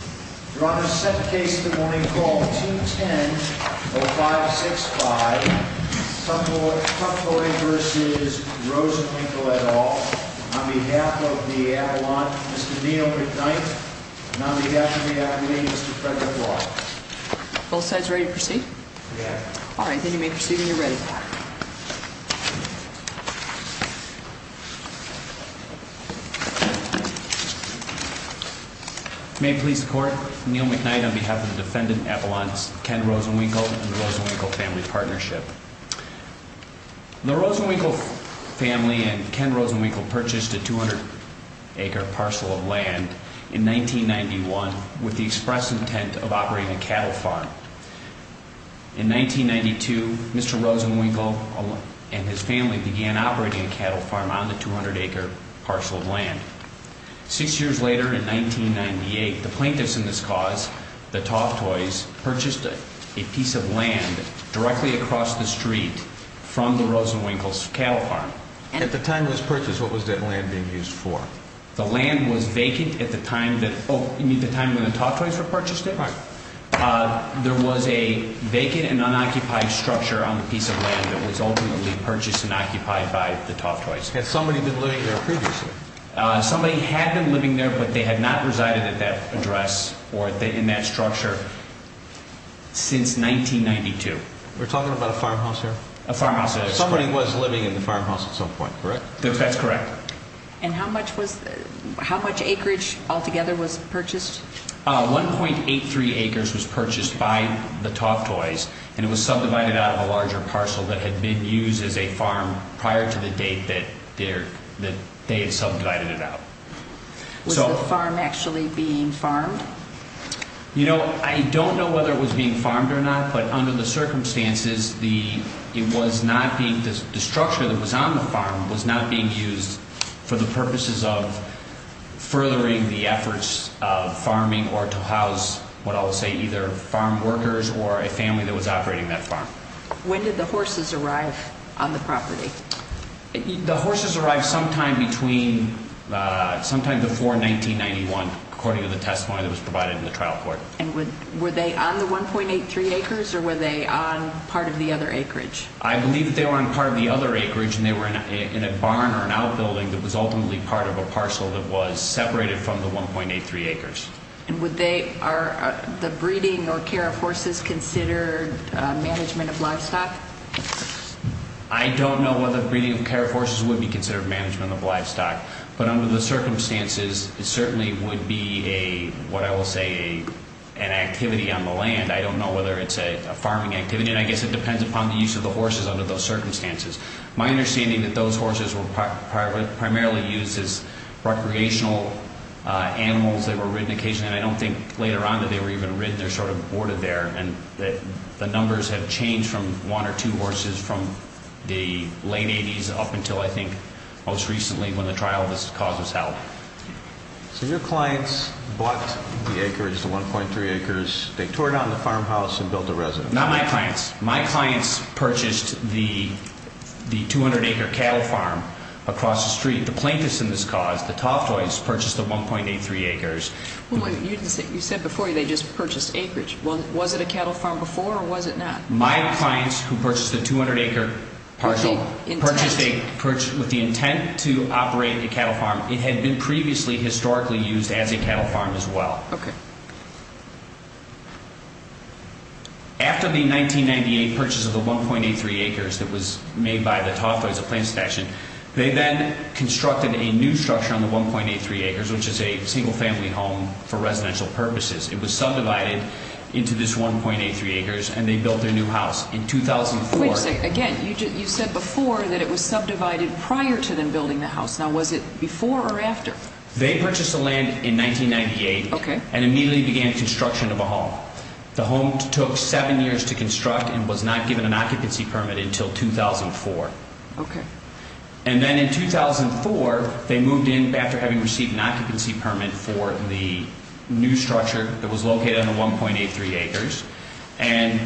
On behalf of the Avalon, Mr. Dino McKnight, and on behalf of the Academy, Mr. Fred LeBlanc. The Rosenwinkel family and Ken Rosenwinkel purchased a 200-acre parcel of land in 1991 with the express intent of operating a cattle farm. In 1992, Mr. Rosenwinkel and his family began operating a cattle farm on the 200-acre parcel of land. Six years later, in 1998, the plaintiffs in this cause, the Toftoys, purchased a piece of land directly across the street from the Rosenwinkels' cattle farm. At the time of this purchase, what was that land being used for? The land was vacant at the time when the Toftoys were purchased. There was a vacant and unoccupied structure on the piece of land that was ultimately purchased and occupied by the Toftoys. Had somebody been living there previously? Somebody had been living there, but they had not resided at that address or in that structure since 1992. We're talking about a farmhouse here? A farmhouse. Somebody was living in the farmhouse at some point, correct? That's correct. And how much acreage altogether was purchased? 1.83 acres was purchased by the Toftoys, and it was subdivided out of a larger parcel that had been used as a farm prior to the date that they had subdivided it out. Was the farm actually being farmed? You know, I don't know whether it was being farmed or not, but under the circumstances, the structure that was on the farm was not being used for the purposes of furthering the efforts of farming or to house, what I'll say, either farm workers or a family that was operating that farm. When did the horses arrive on the property? The horses arrived sometime before 1991, according to the testimony that was provided in the trial court. And were they on the 1.83 acres, or were they on part of the other acreage? I believe that they were on part of the other acreage, and they were in a barn or an outbuilding that was ultimately part of a parcel that was separated from the 1.83 acres. And would the breeding or care of horses consider management of livestock? I don't know whether breeding or care of horses would be considered management of livestock, but under the circumstances, it certainly would be a, what I will say, an activity on the land. I don't know whether it's a farming activity, and I guess it depends upon the use of the horses under those circumstances. My understanding that those horses were primarily used as recreational animals that were ridden occasionally. And I don't think later on that they were even ridden. They're sort of boarded there. And the numbers have changed from one or two horses from the late 80s up until, I think, most recently when the trial was held. So your clients bought the acreage, the 1.3 acres. They tore down the farmhouse and built a residence. Not my clients. My clients purchased the 200-acre cattle farm across the street. The plaintiffs in this cause, the Toftoys, purchased the 1.83 acres. You said before they just purchased acreage. Was it a cattle farm before or was it not? My clients who purchased the 200-acre parcel purchased with the intent to operate a cattle farm. It had been previously historically used as a cattle farm as well. Okay. After the 1998 purchase of the 1.83 acres that was made by the Toftoys, the plaintiffs' faction, they then constructed a new structure on the 1.83 acres, which is a single-family home for residential purposes. It was subdivided into this 1.83 acres, and they built their new house in 2004. Wait a second. Again, you said before that it was subdivided prior to them building the house. Now, was it before or after? They purchased the land in 1998. Okay. And immediately began construction of a home. The home took seven years to construct and was not given an occupancy permit until 2004. Okay. And then in 2004, they moved in after having received an occupancy permit for the new structure that was located on the 1.83 acres. And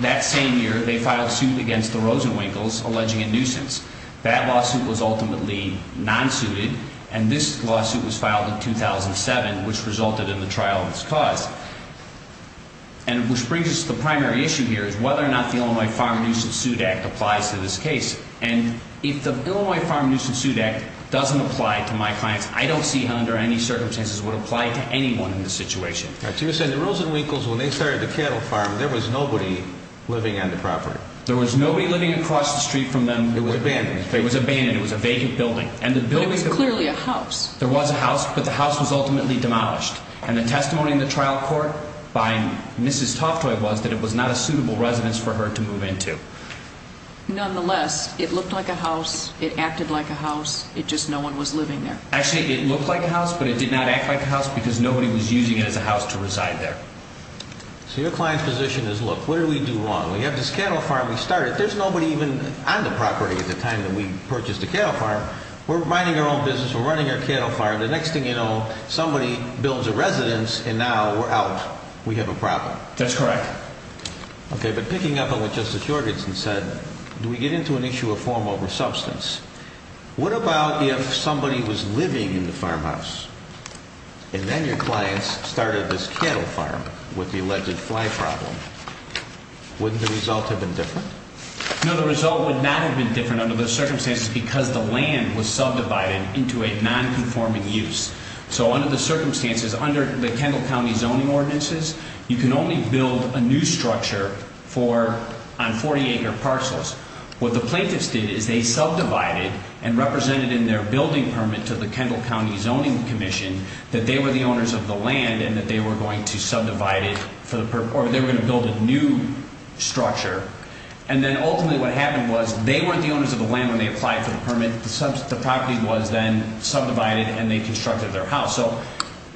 that same year, they filed suit against the Rosenwinkles, alleging a nuisance. That lawsuit was ultimately non-suited, and this lawsuit was filed in 2007, which resulted in the trial of this cause. And which brings us to the primary issue here is whether or not the Illinois Farm Nuisance Suit Act applies to this case. And if the Illinois Farm Nuisance Suit Act doesn't apply to my clients, I don't see how under any circumstances it would apply to anyone in this situation. All right. So you're saying the Rosenwinkles, when they started the cattle farm, there was nobody living on the property. There was nobody living across the street from them. It was abandoned. It was abandoned. It was a vacant building. But it was clearly a house. There was a house, but the house was ultimately demolished. And the testimony in the trial court by Mrs. Toftoy was that it was not a suitable residence for her to move into. Nonetheless, it looked like a house. It acted like a house. It just no one was living there. Actually, it looked like a house, but it did not act like a house because nobody was using it as a house to reside there. So your client's position is, look, what did we do wrong? You have this cattle farm we started. There's nobody even on the property at the time that we purchased the cattle farm. We're minding our own business. We're running our cattle farm. The next thing you know, somebody builds a residence, and now we're out. We have a problem. That's correct. Okay, but picking up on what Justice Jorgenson said, do we get into an issue of form over substance? What about if somebody was living in the farmhouse, and then your clients started this cattle farm with the alleged fly problem? Wouldn't the result have been different? No, the result would not have been different under those circumstances because the land was subdivided into a nonconforming use. So under the circumstances, under the Kendall County Zoning Ordinances, you can only build a new structure on 40-acre parcels. What the plaintiffs did is they subdivided and represented in their building permit to the Kendall County Zoning Commission that they were the owners of the land and that they were going to subdivide it or they were going to build a new structure. And then ultimately what happened was they weren't the owners of the land when they applied for the permit. The property was then subdivided, and they constructed their house. So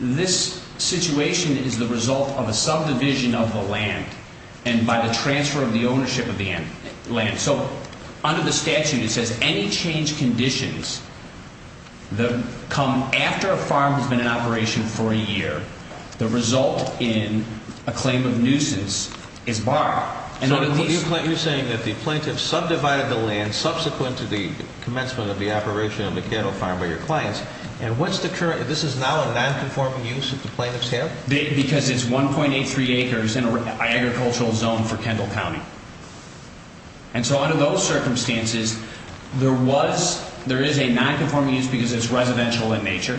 this situation is the result of a subdivision of the land and by the transfer of the ownership of the land. So under the statute, it says any change conditions come after a farm has been in operation for a year, the result in a claim of nuisance is barred. So you're saying that the plaintiffs subdivided the land subsequent to the commencement of the operation of the cattle farm by your clients, and this is now a nonconforming use that the plaintiffs have? Because it's 1.83 acres in an agricultural zone for Kendall County. And so under those circumstances, there is a nonconforming use because it's residential in nature.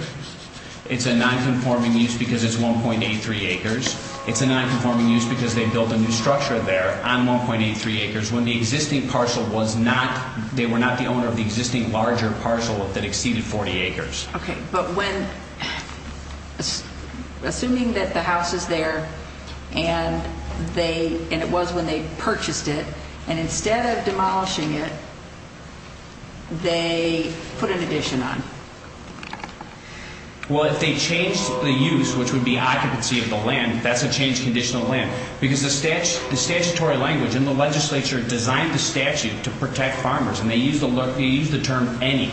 It's a nonconforming use because it's 1.83 acres. It's a nonconforming use because they built a new structure there on 1.83 acres when the existing parcel was not, they were not the owner of the existing larger parcel that exceeded 40 acres. Okay, but when, assuming that the house is there and they, and it was when they purchased it, and instead of demolishing it, they put an addition on. Well, if they changed the use, which would be occupancy of the land, that's a change condition of the land. Because the statutory language in the legislature designed the statute to protect farmers, and they used the term any.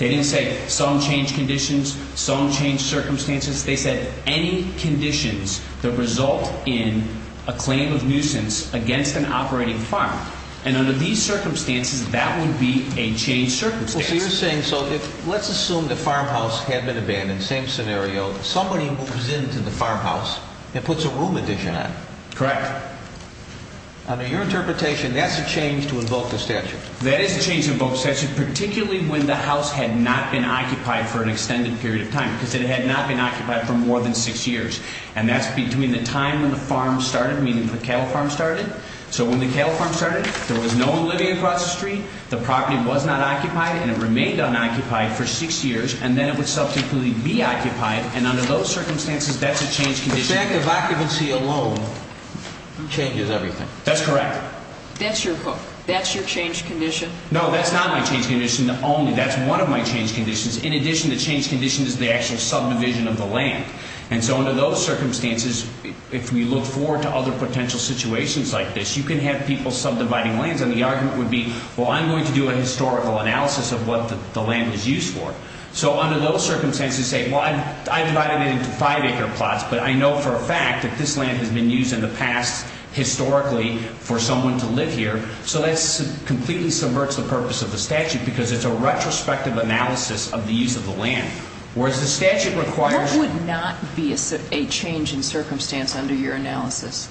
They didn't say some change conditions, some change circumstances. They said any conditions that result in a claim of nuisance against an operating farm. And under these circumstances, that would be a change circumstance. Well, so you're saying, so let's assume the farmhouse had been abandoned, same scenario. Somebody moves into the farmhouse and puts a room addition on. Correct. Under your interpretation, that's a change to invoke the statute. That is a change to invoke the statute, particularly when the house had not been occupied for an extended period of time, because it had not been occupied for more than six years. And that's between the time when the farm started, meaning the cattle farm started. So when the cattle farm started, there was no one living across the street, the property was not occupied, and it remained unoccupied for six years, and then it would subsequently be occupied. And under those circumstances, that's a change condition. The fact of occupancy alone changes everything. That's correct. That's your change condition? No, that's not my change condition only. That's one of my change conditions. In addition, the change condition is the actual subdivision of the land. And so under those circumstances, if we look forward to other potential situations like this, you can have people subdividing lands, and the argument would be, well, I'm going to do a historical analysis of what the land is used for. So under those circumstances, say, well, I divided it into five-acre plots, but I know for a fact that this land has been used in the past historically for someone to live here, so that completely subverts the purpose of the statute because it's a retrospective analysis of the use of the land. Whereas the statute requires you to do a historical analysis. What would not be a change in circumstance under your analysis?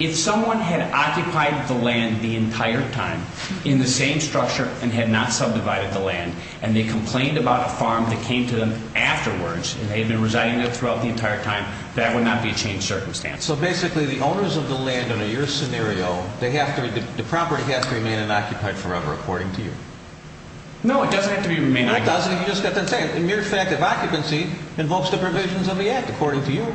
If someone had occupied the land the entire time in the same structure and had not subdivided the land, and they complained about a farm that came to them afterwards, and they had been residing there throughout the entire time, that would not be a change in circumstance. So basically the owners of the land under your scenario, the property has to remain unoccupied forever, according to you? No, it doesn't have to remain unoccupied. It doesn't? You just have to say it. The mere fact of occupancy involves the provisions of the Act, according to you.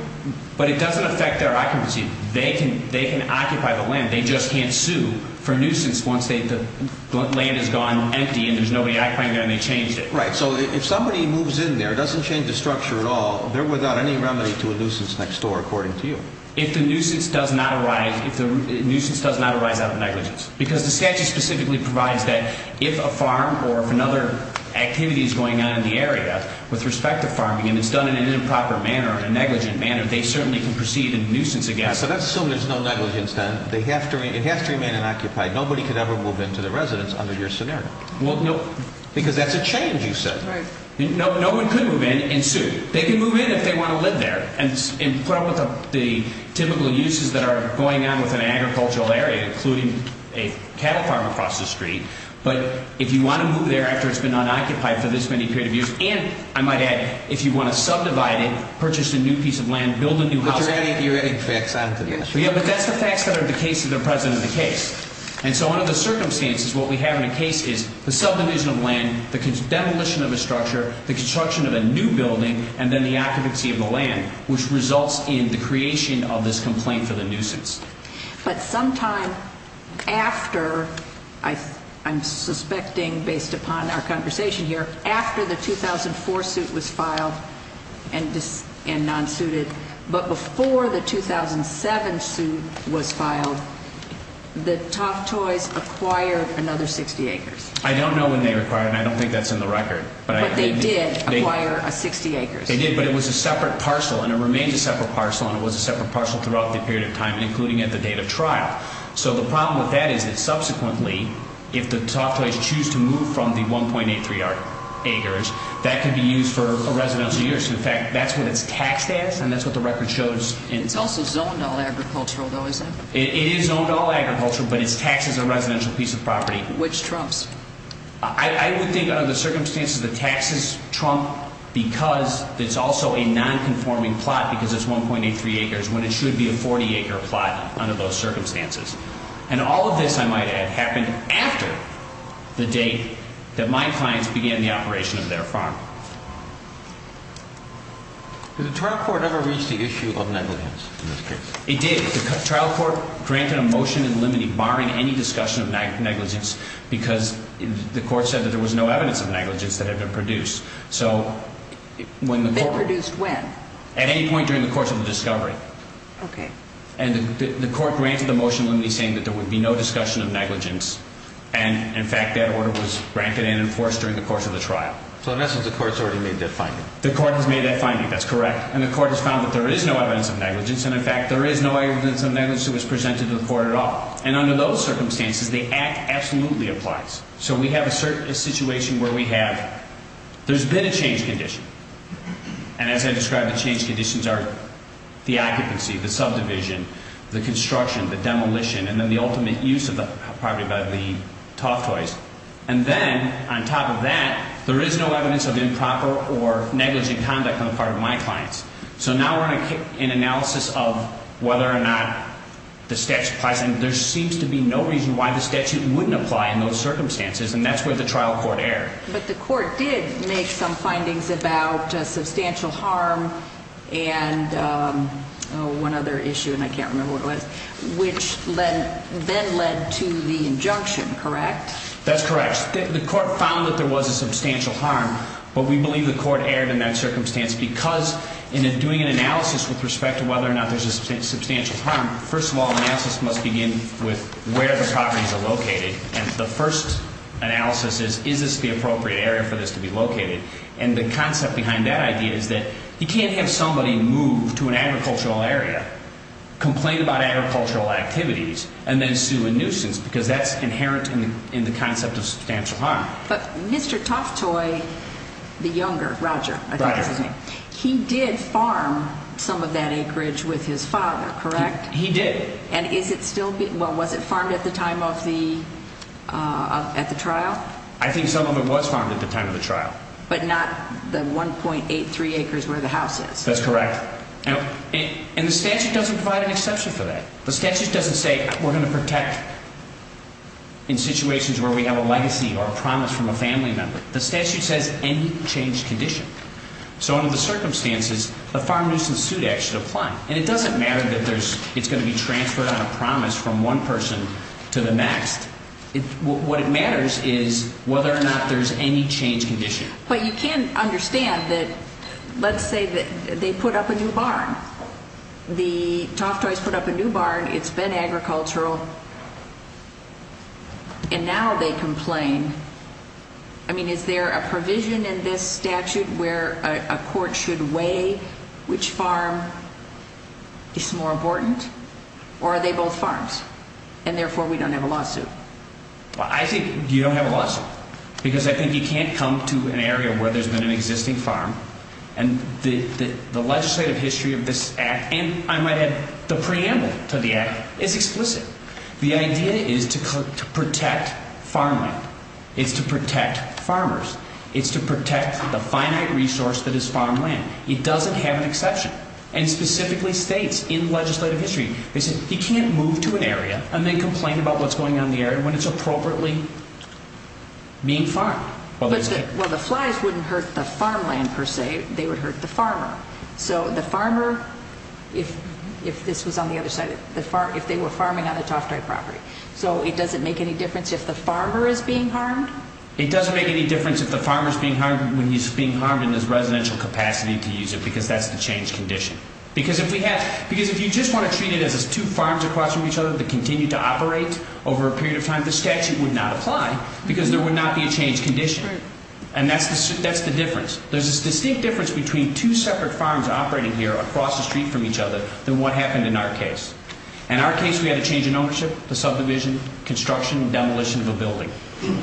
But it doesn't affect their occupancy. They can occupy the land. They just can't sue for nuisance once the land has gone empty and there's nobody occupying it and they changed it. Right. So if somebody moves in there, doesn't change the structure at all, they're without any remedy to a nuisance next door, according to you? If the nuisance does not arise out of negligence. Because the statute specifically provides that if a farm or if another activity is going on in the area with respect to farming, and it's done in an improper manner, a negligent manner, they certainly can proceed and nuisance against it. So let's assume there's no negligence then. It has to remain unoccupied. Nobody could ever move into the residence under your scenario. Well, no. Because that's a change, you said. Right. No one could move in and sue. They can move in if they want to live there and put up with the typical uses that are going on with an agricultural area, including a cattle farm across the street. But if you want to move there after it's been unoccupied for this many period of years, and I might add, if you want to subdivide it, purchase a new piece of land, build a new house. But you're adding facts onto this. Yeah, but that's the facts that are the case that are present in the case. And so under the circumstances, what we have in the case is the subdivision of land, the demolition of a structure, the construction of a new building, and then the occupancy of the land, which results in the creation of this complaint for the nuisance. But sometime after, I'm suspecting based upon our conversation here, after the 2004 suit was filed and non-suited, but before the 2007 suit was filed, the Toftoys acquired another 60 acres. I don't know when they acquired it, and I don't think that's in the record. But they did acquire 60 acres. They did, but it was a separate parcel, and it remains a separate parcel, and it was a separate parcel throughout the period of time, including at the date of trial. So the problem with that is that subsequently, if the Toftoys choose to move from the 1.83 acres, that could be used for residential use. In fact, that's what it's taxed as, and that's what the record shows. It's also zoned all agricultural, though, is it? It is zoned all agricultural, but it's taxed as a residential piece of property. Which trumps? I would think under the circumstances, the taxes trump because it's also a non-conforming plot because it's 1.83 acres when it should be a 40-acre plot under those circumstances. And all of this, I might add, happened after the date that my clients began the operation of their farm. Did the trial court ever reach the issue of negligence in this case? It did. The trial court granted a motion in limine, barring any discussion of negligence, because the court said that there was no evidence of negligence that had been produced. So when the court – They produced when? At any point during the course of the discovery. Okay. And the court granted the motion in limine saying that there would be no discussion of negligence, and, in fact, that order was granted and enforced during the course of the trial. So, in essence, the court's already made that finding. The court has made that finding. That's correct. And the court has found that there is no evidence of negligence, and, in fact, there is no evidence of negligence that was presented to the court at all. And under those circumstances, the act absolutely applies. So we have a situation where we have – there's been a change condition. And, as I described, the change conditions are the occupancy, the subdivision, the construction, the demolition, and then the ultimate use of the property by the Toff Toys. And then, on top of that, there is no evidence of improper or negligent conduct on the part of my clients. So now we're in analysis of whether or not the statute applies, and there seems to be no reason why the statute wouldn't apply in those circumstances, and that's where the trial court erred. But the court did make some findings about substantial harm and one other issue, and I can't remember what it was, which then led to the injunction, correct? That's correct. The court found that there was a substantial harm, but we believe the court erred in that circumstance because, in doing an analysis with respect to whether or not there's a substantial harm, first of all, analysis must begin with where the properties are located. And the first analysis is, is this the appropriate area for this to be located? And the concept behind that idea is that you can't have somebody move to an agricultural area, complain about agricultural activities, and then sue a nuisance because that's inherent in the concept of substantial harm. But Mr. Toff Toy, the younger, Roger, I think is his name, he did farm some of that acreage with his father, correct? He did. And is it still, well, was it farmed at the time of the trial? I think some of it was farmed at the time of the trial. But not the 1.83 acres where the house is? That's correct. And the statute doesn't provide an exception for that. The statute doesn't say we're going to protect in situations where we have a legacy or a promise from a family member. The statute says any changed condition. So under the circumstances, the Farm Nuisance Suit Act should apply. And it doesn't matter that it's going to be transferred on a promise from one person to the next. What matters is whether or not there's any changed condition. But you can understand that, let's say that they put up a new barn. The Toff Toys put up a new barn. It's been agricultural. And now they complain. I mean, is there a provision in this statute where a court should weigh which farm is more important? Or are they both farms? And therefore we don't have a lawsuit. Well, I think you don't have a lawsuit. Because I think you can't come to an area where there's been an existing farm. And the legislative history of this act, and I might add the preamble to the act, is explicit. The idea is to protect farmland. It's to protect farmers. It's to protect the finite resource that is farmland. It doesn't have an exception. And specifically states in legislative history, they say you can't move to an area and then complain about what's going on in the area when it's appropriately being farmed. Well, the flies wouldn't hurt the farmland, per se. They would hurt the farmer. So the farmer, if this was on the other side, if they were farming on the Toftai property. So it doesn't make any difference if the farmer is being harmed? It doesn't make any difference if the farmer is being harmed when he's being harmed in his residential capacity to use it because that's the changed condition. Because if you just want to treat it as two farms across from each other that continue to operate over a period of time, the statute would not apply because there would not be a changed condition. And that's the difference. There's a distinct difference between two separate farms operating here across the street from each other than what happened in our case. In our case, we had a change in ownership, the subdivision, construction, demolition of a building.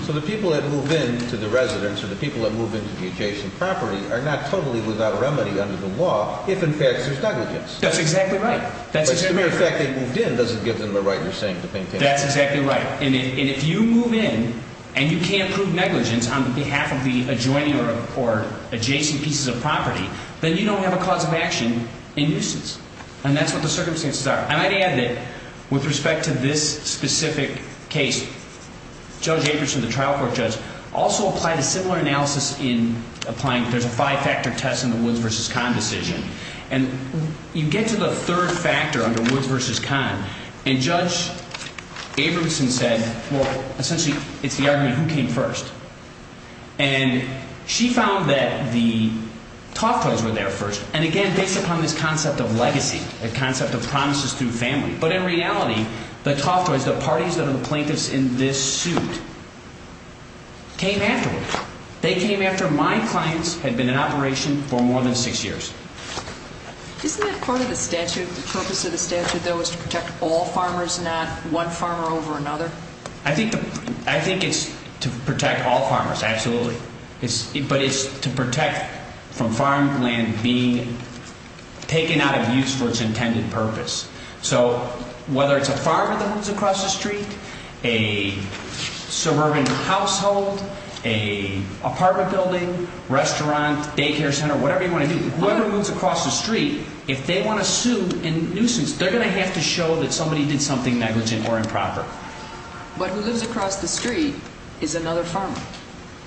So the people that move in to the residence or the people that move in to the adjacent property are not totally without remedy under the law if, in fact, there's negligence. That's exactly right. But the very fact they moved in doesn't give them the right, you're saying, to maintain it? That's exactly right. And if you move in and you can't prove negligence on behalf of the adjoining or adjacent pieces of property, then you don't have a cause of action in nuisance. And that's what the circumstances are. I might add that with respect to this specific case, Judge Abramson, the trial court judge, also applied a similar analysis in applying there's a five-factor test in the Woods v. Conn decision. And you get to the third factor under Woods v. Conn, and Judge Abramson said, well, essentially, it's the argument who came first. And she found that the Toftoys were there first, and again, based upon this concept of legacy, the concept of promises through family. But in reality, the Toftoys, the parties that are the plaintiffs in this suit, came afterwards. They came after my clients had been in operation for more than six years. Isn't that part of the statute? The purpose of the statute, though, is to protect all farmers, not one farmer over another? I think it's to protect all farmers, absolutely. But it's to protect from farmland being taken out of use for its intended purpose. So whether it's a farmer that moves across the street, a suburban household, an apartment building, restaurant, daycare center, whatever you want to do, whoever moves across the street, if they want to sue and nuisance, they're going to have to show that somebody did something negligent or improper. But who lives across the street is another farmer.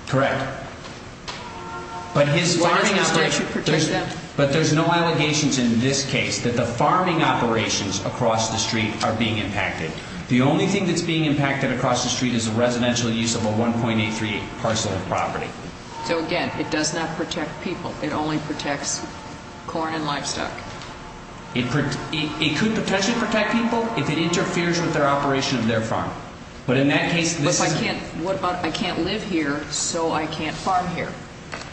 Correct. Why doesn't the statute protect them? But there's no allegations in this case that the farming operations across the street are being impacted. The only thing that's being impacted across the street is the residential use of a 1.83 parcel of property. So, again, it does not protect people. It only protects corn and livestock. It could potentially protect people if it interferes with their operation of their farm. But in that case, this is... What about, I can't live here, so I can't farm here?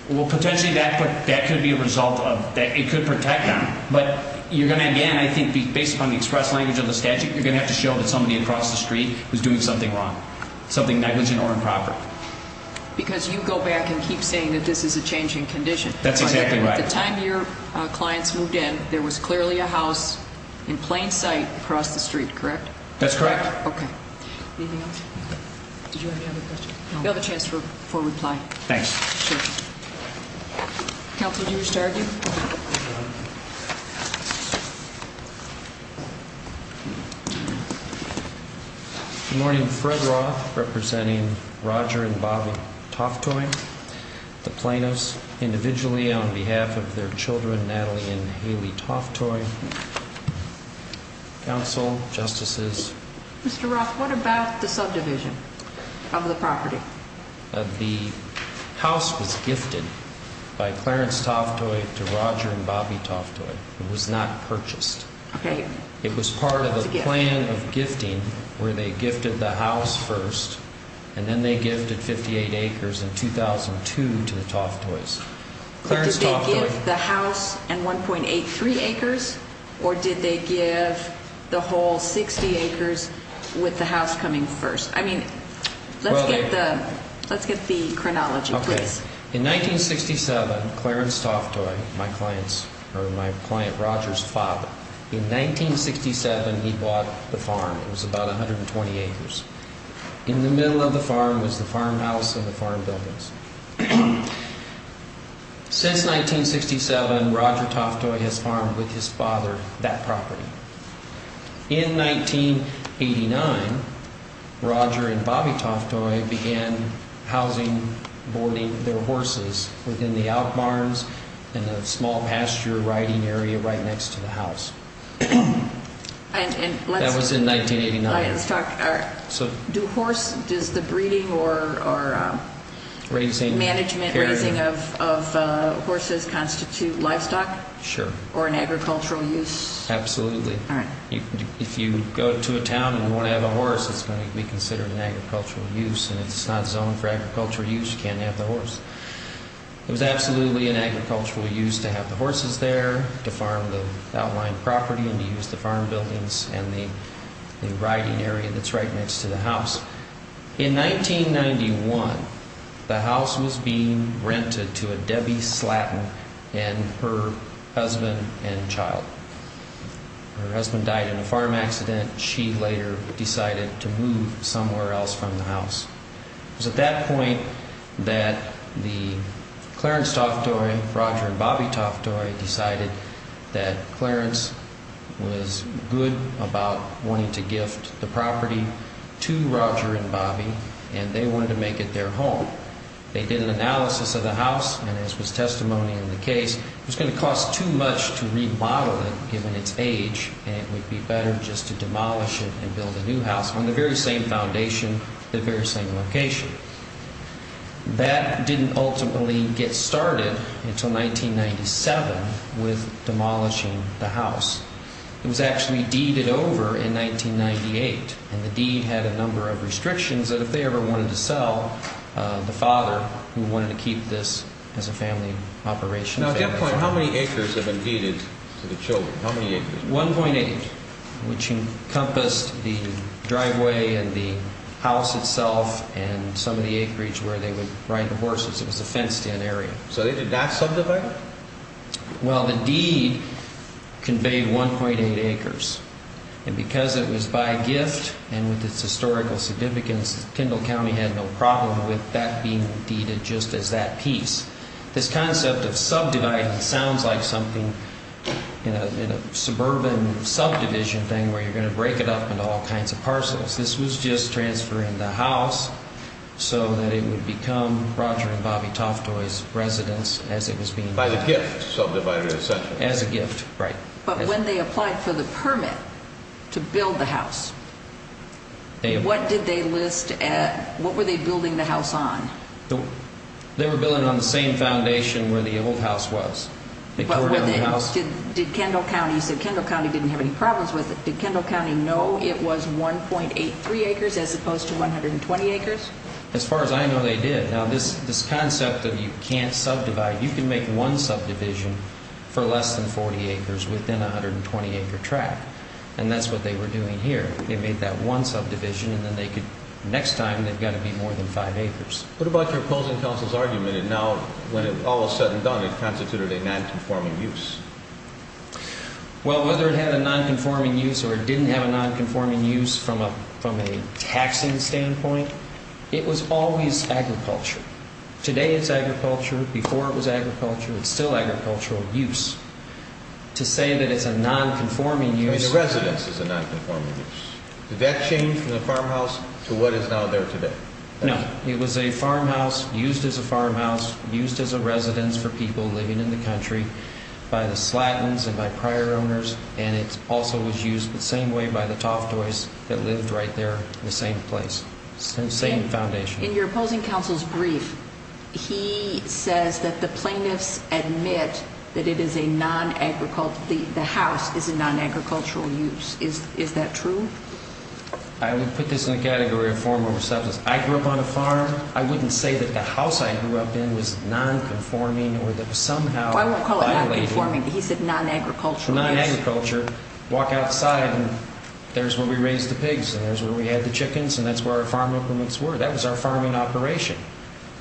Well, potentially that could be a result of... It could protect them. But you're going to, again, I think based upon the express language of the statute, you're going to have to show that somebody across the street was doing something wrong, something negligent or improper. Because you go back and keep saying that this is a changing condition. That's exactly right. At the time your clients moved in, there was clearly a house in plain sight across the street, correct? That's correct. Okay. Anything else? Did you have any other questions? No. You'll have a chance for reply. Thanks. Sure. Counsel, did you wish to argue? No. Good morning. Fred Roth, representing Roger and Bobby Toftoy. The plaintiffs, individually on behalf of their children, Natalie and Haley Toftoy. Counsel, Justices. Mr. Roth, what about the subdivision of the property? The house was gifted by Clarence Toftoy to Roger and Bobby Toftoy. It was not purchased. Okay. It was part of a plan of gifting where they gifted the house first, and then they gifted 58 acres in 2002 to the Toftoys. Did they give the house and 1.83 acres? Or did they give the whole 60 acres with the house coming first? Let's get the chronology, please. In 1967, Clarence Toftoy, my client Roger's father, in 1967 he bought the farm. It was about 120 acres. In the middle of the farm was the farmhouse and the farm buildings. Since 1967, Roger Toftoy has farmed with his father that property. In 1989, Roger and Bobby Toftoy began housing, boarding their horses within the out barns and the small pasture riding area right next to the house. That was in 1989. Does the breeding or management of horses constitute livestock? Sure. Or an agricultural use? Absolutely. If you go to a town and want to have a horse, it's going to be considered an agricultural use. If it's not zoned for agricultural use, you can't have the horse. It was absolutely an agricultural use to have the horses there, to farm the outlying property and to use the farm buildings and the riding area that's right next to the house. In 1991, the house was being rented to a Debbie Slatton and her husband and child. Her husband died in a farm accident. She later decided to move somewhere else from the house. It was at that point that the Clarence Toftoy, Roger and Bobby Toftoy decided that Clarence was good about wanting to gift the property to Roger and Bobby and they wanted to make it their home. They did an analysis of the house and as was testimony in the case, it was going to cost too much to remodel it given its age and it would be better just to demolish it and build a new house on the very same foundation, the very same location. That didn't ultimately get started until 1997 with demolishing the house. It was actually deeded over in 1998 and the deed had a number of restrictions that if they ever wanted to sell, the father who wanted to keep this as a family operation. At that point, how many acres have been deeded to the children? How many acres? 1.8, which encompassed the driveway and the house itself and some of the acreage where they would ride the horses. It was a fenced in area. So they did not subdivide? Well, the deed conveyed 1.8 acres and because it was by gift and with its historical significance, Tyndall County had no problem with that being deeded just as that piece. This concept of subdividing sounds like something in a suburban subdivision thing where you're going to break it up into all kinds of parcels. This was just transferring the house so that it would become Roger and Bobby Toftoy's residence as it was being— By the gift, subdivided essentially. As a gift, right. But when they applied for the permit to build the house, what did they list at—what were they building the house on? They were building on the same foundation where the old house was. Did Tyndall County—you said Tyndall County didn't have any problems with it. Did Tyndall County know it was 1.83 acres as opposed to 120 acres? As far as I know, they did. Now, this concept of you can't subdivide, you can make one subdivision for less than 40 acres within a 120-acre tract. And that's what they were doing here. They made that one subdivision and then they could—next time, they've got to be more than five acres. What about your opposing counsel's argument that now, when it was all said and done, it constituted a nonconforming use? Well, whether it had a nonconforming use or it didn't have a nonconforming use from a taxing standpoint, it was always agriculture. Today it's agriculture. Before it was agriculture. It's still agricultural use. To say that it's a nonconforming use— I mean, the residence is a nonconforming use. Did that change from the farmhouse to what is now there today? No. It was a farmhouse used as a farmhouse, used as a residence for people living in the country by the Slattons and by prior owners. And it also was used the same way by the Toftoys that lived right there in the same place. Same foundation. In your opposing counsel's brief, he says that the plaintiffs admit that it is a nonagricult—the house is a nonagricultural use. Is that true? I would put this in the category of form over substance. I grew up on a farm. I wouldn't say that the house I grew up in was nonconforming or that somehow— I won't call it nonconforming, but he said nonagricultural use. Nonagricultural. Walk outside and there's where we raised the pigs and there's where we had the chickens and that's where our farm equipments were. That was our farming operation.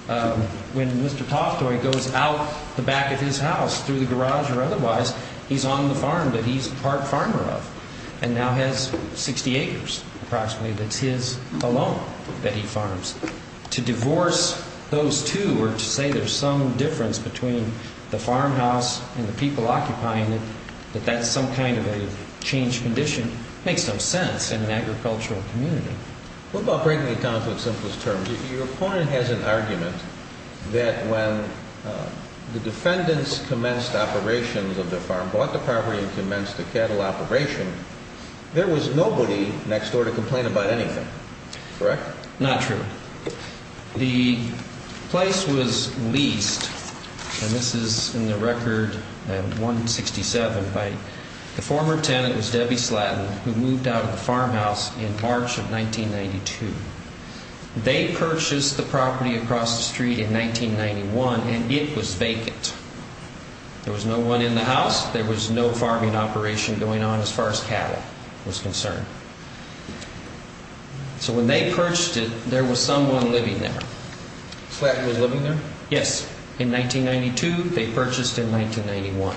When Mr. Toftoy goes out the back of his house through the garage or otherwise, he's on the farm that he's part farmer of and now has 60 acres approximately that's his alone that he farms. To divorce those two or to say there's some difference between the farmhouse and the people occupying it, that that's some kind of a changed condition, makes no sense in an agricultural community. What about breaking it down to its simplest terms? Your opponent has an argument that when the defendants commenced operations of the farm, bought the property and commenced the cattle operation, there was nobody next door to complain about anything. Correct? Not true. The place was leased, and this is in the record in 167, by the former tenant, Debbie Slatton, who moved out of the farmhouse in March of 1992. They purchased the property across the street in 1991 and it was vacant. There was no one in the house. There was no farming operation going on as far as cattle was concerned. So when they purchased it, there was someone living there. Slatton was living there? Yes. In 1992. They purchased in 1991.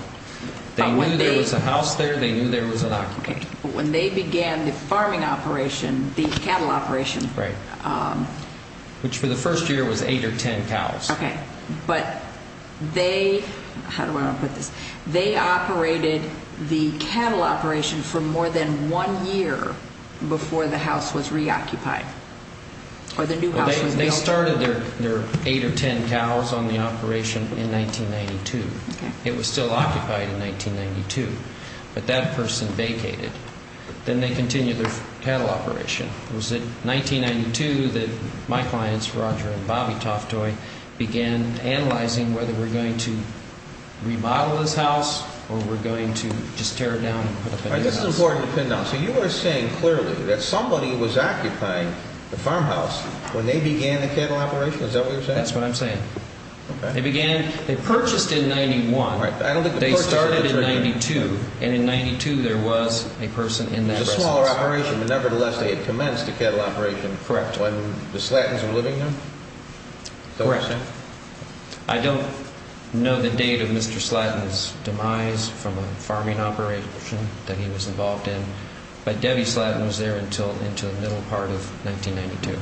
They knew there was a house there. They knew there was an occupant. Okay. When they began the farming operation, the cattle operation. Right. Which for the first year was eight or ten cows. Okay. But they, how do I want to put this, they operated the cattle operation for more than one year before the house was reoccupied. Or the new house was built. They started their eight or ten cows on the operation in 1992. It was still occupied in 1992. But that person vacated. Then they continued their cattle operation. It was in 1992 that my clients, Roger and Bobby Toftoy, began analyzing whether we're going to remodel this house or we're going to just tear it down and put up a new house. This is important to pin down. So you are saying clearly that somebody was occupying the farmhouse when they began the cattle operation? Is that what you're saying? That's what I'm saying. Okay. They began, they purchased in 91. They started in 92, and in 92 there was a person in that residence. It was a smaller operation, but nevertheless they had commenced the cattle operation when the Slattons were living there? Correct. I don't know the date of Mr. Slatton's demise from a farming operation that he was involved in, but Debbie Slatton was there until the middle part of 1992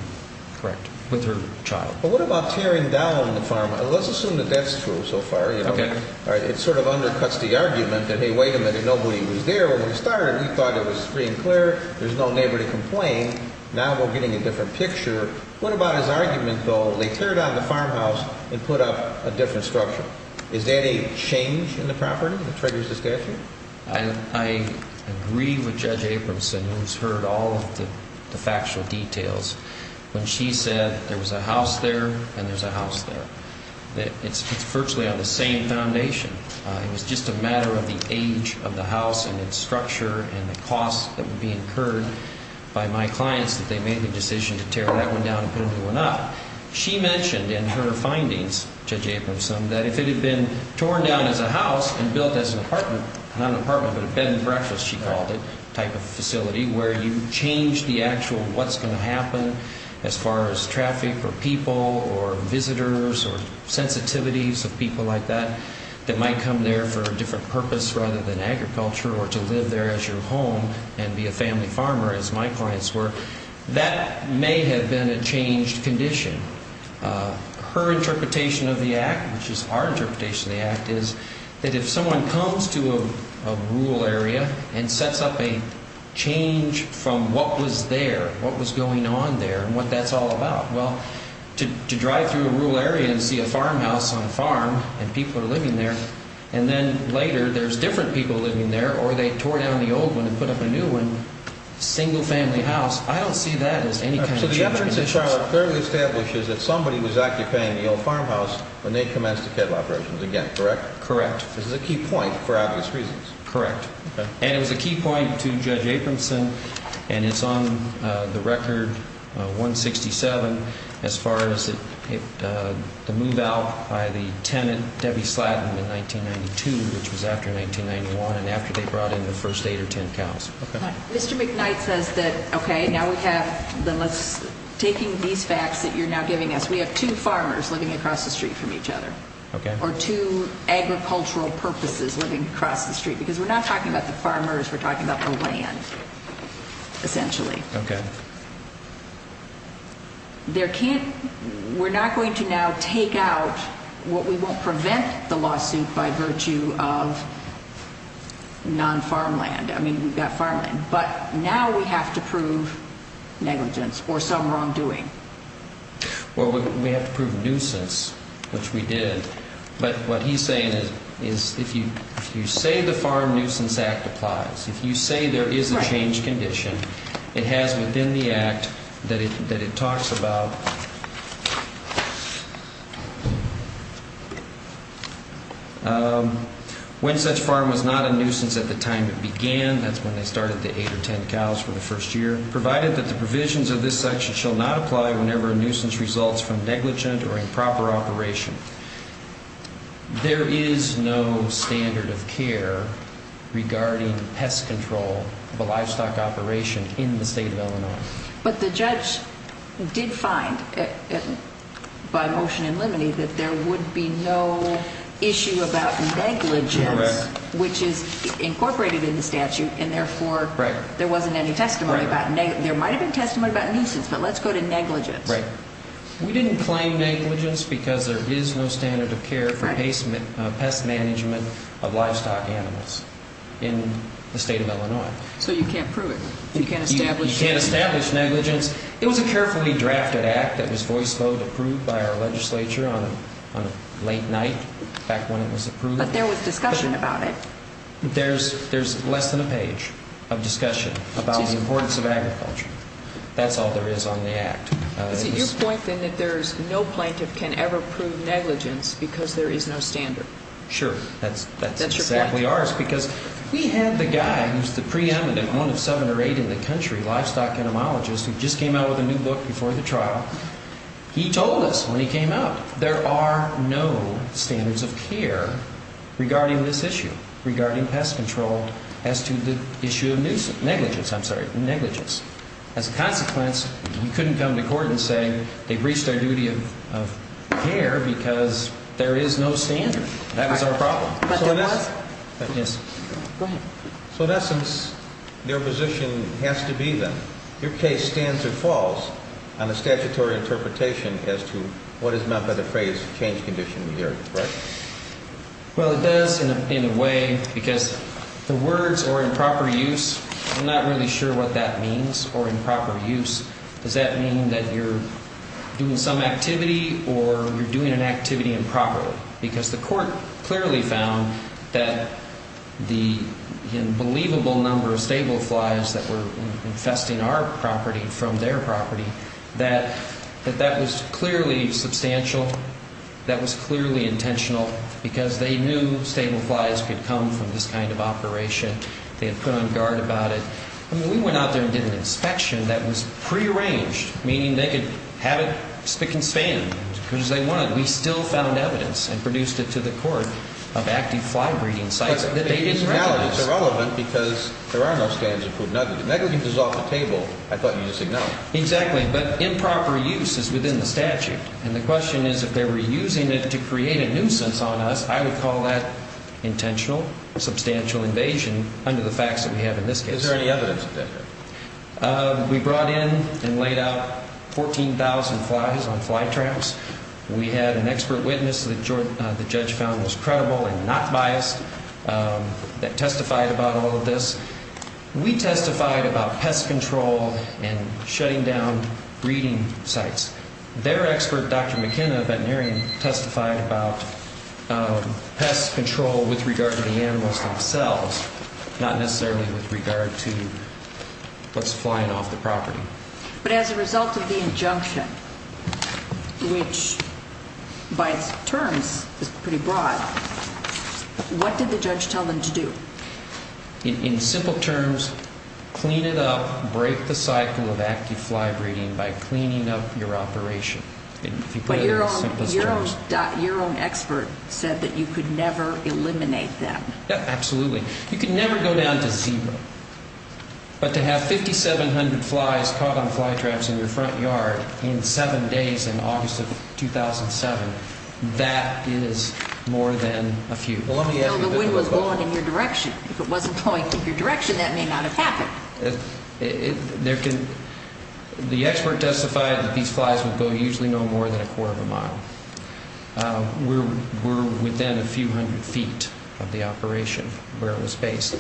with her child. But what about tearing down the farmhouse? Let's assume that that's true so far. It sort of undercuts the argument that, hey, wait a minute, nobody was there when we started. We thought it was free and clear. There's no neighbor to complain. Now we're getting a different picture. What about his argument, though, they tear down the farmhouse and put up a different structure? Is that a change in the property that triggers the statute? I agree with Judge Abramson, who's heard all of the factual details. When she said there was a house there and there's a house there, it's virtually on the same foundation. It was just a matter of the age of the house and its structure and the costs that would be incurred by my clients if they made the decision to tear that one down and put a new one up. She mentioned in her findings, Judge Abramson, that if it had been torn down as a house and built as an apartment, not an apartment but a bed and breakfast, she called it, type of facility, where you change the actual what's going to happen as far as traffic or people or visitors or sensitivities of people like that that might come there for a different purpose rather than agriculture or to live there as your home and be a family farmer, as my clients were. That may have been a changed condition. Her interpretation of the Act, which is our interpretation of the Act, is that if someone comes to a rural area and sets up a change from what was there, what was going on there and what that's all about, to drive through a rural area and see a farmhouse on a farm and people are living there and then later there's different people living there or they tore down the old one and put up a new one, single family house, I don't see that as any kind of changed condition. Judge Aprimson's trial clearly establishes that somebody was occupying the old farmhouse when they commenced the cattle operations again, correct? Correct. This is a key point for obvious reasons. Correct. And it was a key point to Judge Aprimson and it's on the record 167 as far as the move out by the tenant Debbie Slatton in 1992, which was after 1991 and after they brought in the first 8 or 10 cows. Mr. McKnight says that, okay, now we have, taking these facts that you're now giving us, we have two farmers living across the street from each other or two agricultural purposes living across the street because we're not talking about the farmers, we're talking about the land essentially. Okay. We're not going to now take out what we won't prevent the lawsuit by virtue of non-farmland. I mean, we've got farmland. But now we have to prove negligence or some wrongdoing. Well, we have to prove nuisance, which we did. But what he's saying is if you say the Farm Nuisance Act applies, if you say there is a changed condition, it has within the Act that it talks about when such farm was not a nuisance at the time it began, that's when they started the 8 or 10 cows for the first year, provided that the provisions of this section shall not apply whenever a nuisance results from negligent or improper operation. There is no standard of care regarding pest control of a livestock operation in the state of Illinois. But the judge did find by motion in limine that there would be no issue about negligence, which is incorporated in the statute, and therefore there wasn't any testimony about negligence. There might have been testimony about nuisance, but let's go to negligence. Right. We didn't claim negligence because there is no standard of care for pest management of livestock animals in the state of Illinois. So you can't prove it. You can't establish it. You can't establish negligence. It was a carefully drafted Act that was voice vote approved by our legislature on a late night, back when it was approved. But there was discussion about it. There's less than a page of discussion about the importance of agriculture. That's all there is on the Act. Is it your point, then, that there is no plaintiff can ever prove negligence because there is no standard? Sure. That's your point. We had the guy who's the preeminent one of seven or eight in the country, livestock entomologist, who just came out with a new book before the trial. He told us when he came out there are no standards of care regarding this issue, regarding pest control, as to the issue of negligence. As a consequence, you couldn't come to court and say they breached their duty of care because there is no standard. That was our problem. But there was? Yes. Go ahead. So, in essence, their position has to be, then, your case stands or falls on a statutory interpretation as to what is meant by the phrase change condition in the area. Right? Well, it does, in a way, because the words are improper use. I'm not really sure what that means, or improper use. Does that mean that you're doing some activity or you're doing an activity improperly? Because the court clearly found that the unbelievable number of stable flies that were infesting our property from their property, that that was clearly substantial. That was clearly intentional because they knew stable flies could come from this kind of operation. They had put on guard about it. I mean, we went out there and did an inspection that was prearranged, meaning they could have it spick and span because they wanted. But we still found evidence and produced it to the court of active fly breeding sites that they didn't recognize. Now it's irrelevant because there are no standards of food negligence. Negligence is off the table. I thought you just ignored it. Exactly. But improper use is within the statute. And the question is, if they were using it to create a nuisance on us, I would call that intentional, substantial invasion under the facts that we have in this case. Is there any evidence of that? We brought in and laid out 14,000 flies on fly traps. We had an expert witness that the judge found was credible and not biased that testified about all of this. We testified about pest control and shutting down breeding sites. Their expert, Dr. McKenna, a veterinarian, testified about pest control with regard to the animals themselves, not necessarily with regard to what's flying off the property. But as a result of the injunction, which by its terms is pretty broad, what did the judge tell them to do? In simple terms, clean it up, break the cycle of active fly breeding by cleaning up your operation. If you put it in the simplest terms. But your own expert said that you could never eliminate them. Absolutely. You could never go down to zero. But to have 5,700 flies caught on fly traps in your front yard in seven days in August of 2007, that is more than a few. The wind was blowing in your direction. If it wasn't blowing in your direction, that may not have happened. The expert testified that these flies would go usually no more than a quarter of a mile. We're within a few hundred feet of the operation where it was based.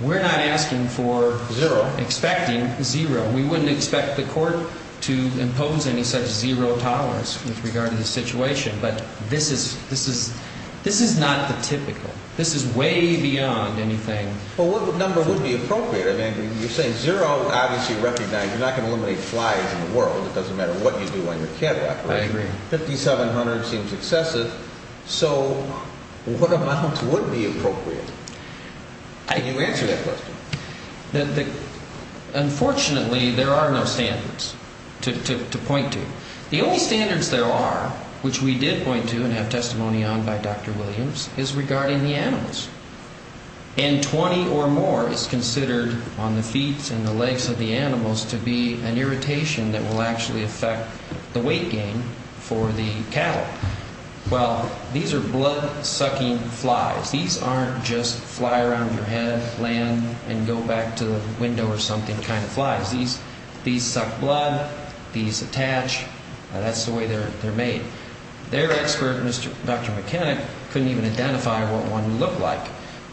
We're not asking for zero, expecting zero. We wouldn't expect the court to impose any such zero tolerance with regard to the situation. But this is not the typical. This is way beyond anything. Well, what number would be appropriate? I mean, you're saying zero is obviously recognized. You're not going to eliminate flies in the world. It doesn't matter what you do on your catwalk. I agree. 5,700 seems excessive. So what amounts would be appropriate? Can you answer that question? Unfortunately, there are no standards to point to. The only standards there are, which we did point to and have testimony on by Dr. Williams, is regarding the animals. And 20 or more is considered on the feet and the legs of the animals to be an irritation that will actually affect the weight gain for the cattle. Well, these are blood-sucking flies. These aren't just fly around your head, land, and go back to the window or something kind of flies. These suck blood. These attach. That's the way they're made. Their expert, Dr. McKenna, couldn't even identify what one looked like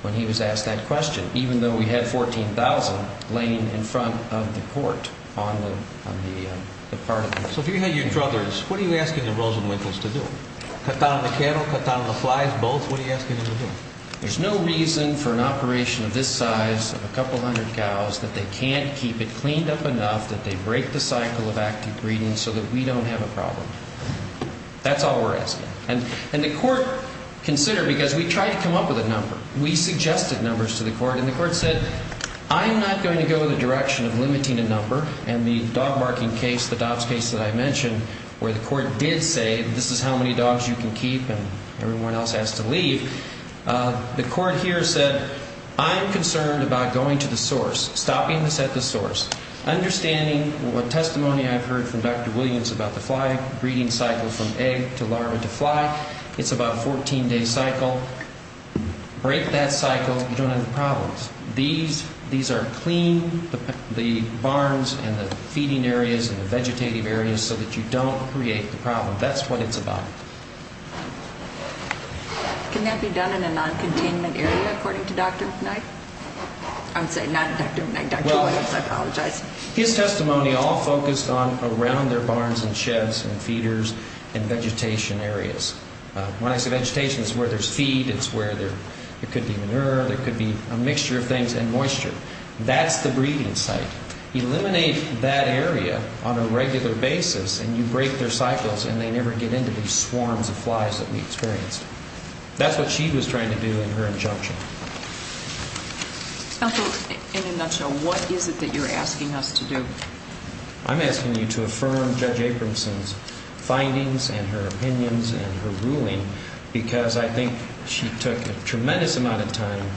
when he was asked that question, even though we had 14,000 laying in front of the court on the part of the court. So if you had your truthers, what are you asking the Rosenwinters to do? Cut down on the cattle, cut down on the flies, both? What are you asking them to do? There's no reason for an operation of this size of a couple hundred cows that they can't keep it cleaned up enough that they break the cycle of active breeding so that we don't have a problem. That's all we're asking. And the court considered, because we tried to come up with a number, we suggested numbers to the court, and the court said, I'm not going to go in the direction of limiting a number, and the dog marking case, the dogs case that I mentioned where the court did say this is how many dogs you can keep and everyone else has to leave, the court here said, I'm concerned about going to the source, stopping this at the source, understanding what testimony I've heard from Dr. Williams about the fly breeding cycle from egg to larva to fly. It's about a 14-day cycle. Break that cycle. You don't have the problems. These are clean, the barns and the feeding areas and the vegetative areas so that you don't create the problem. That's what it's about. Can that be done in a non-containment area, according to Dr. Knight? I would say not in that domain, Dr. Williams. I apologize. His testimony all focused on around their barns and sheds and feeders and vegetation areas. When I say vegetation, it's where there's feed, it's where there could be manure, there could be a mixture of things, and moisture. That's the breeding site. Eliminate that area on a regular basis and you break their cycles and they never get into these swarms of flies that we experienced. That's what she was trying to do in her injunction. Counsel, in a nutshell, what is it that you're asking us to do? I'm asking you to affirm Judge Abramson's findings and her opinions and her ruling because I think she took a tremendous amount of time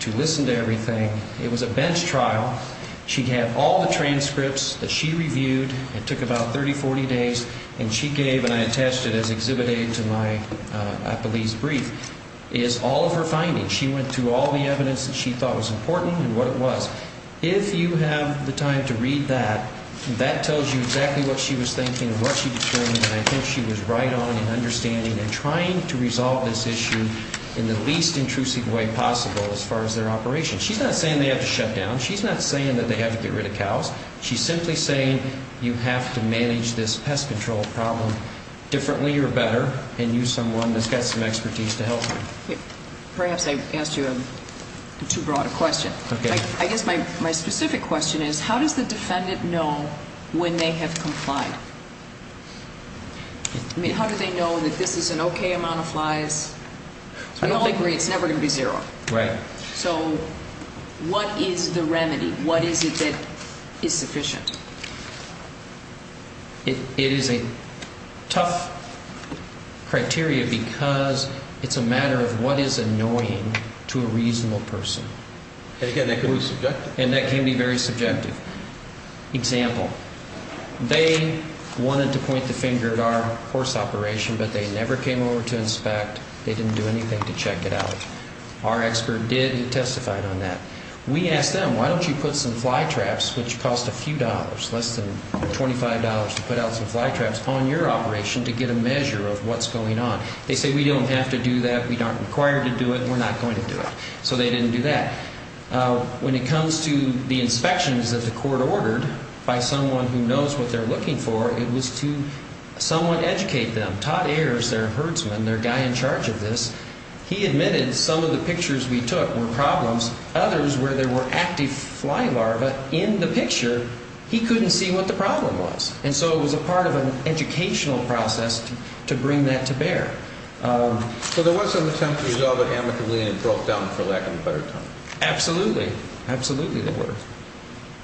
to listen to everything. It was a bench trial. She had all the transcripts that she reviewed. It took about 30, 40 days, and she gave, and I attached it as Exhibit A to my police brief, is all of her findings. She went through all the evidence that she thought was important and what it was. If you have the time to read that, that tells you exactly what she was thinking and what she determined, and I think she was right on in understanding and trying to resolve this issue in the least intrusive way possible as far as their operation. She's not saying they have to shut down. She's not saying that they have to get rid of cows. She's simply saying you have to manage this pest control problem differently or better and use someone that's got some expertise to help you. Perhaps I asked you a too broad a question. Okay. I guess my specific question is how does the defendant know when they have complied? I mean, how do they know that this is an okay amount of flies? We all agree it's never going to be zero. Right. So what is the remedy? What is it that is sufficient? It is a tough criteria because it's a matter of what is annoying to a reasonable person. And, again, that can be subjective. And that can be very subjective. Example, they wanted to point the finger at our horse operation, but they never came over to inspect. They didn't do anything to check it out. Our expert did. He testified on that. We asked them, why don't you put some fly traps, which cost a few dollars, less than $25, to put out some fly traps on your operation to get a measure of what's going on. They say, we don't have to do that. We aren't required to do it. We're not going to do it. So they didn't do that. When it comes to the inspections that the court ordered by someone who knows what they're looking for, it was to somewhat educate them. Todd Ayers, their herdsman, their guy in charge of this, he admitted some of the pictures we took were problems. Others, where there were active fly larvae in the picture, he couldn't see what the problem was. And so it was a part of an educational process to bring that to bear. So there was some attempt to resolve it amicably and it broke down for lack of a better term. Absolutely. Absolutely there were.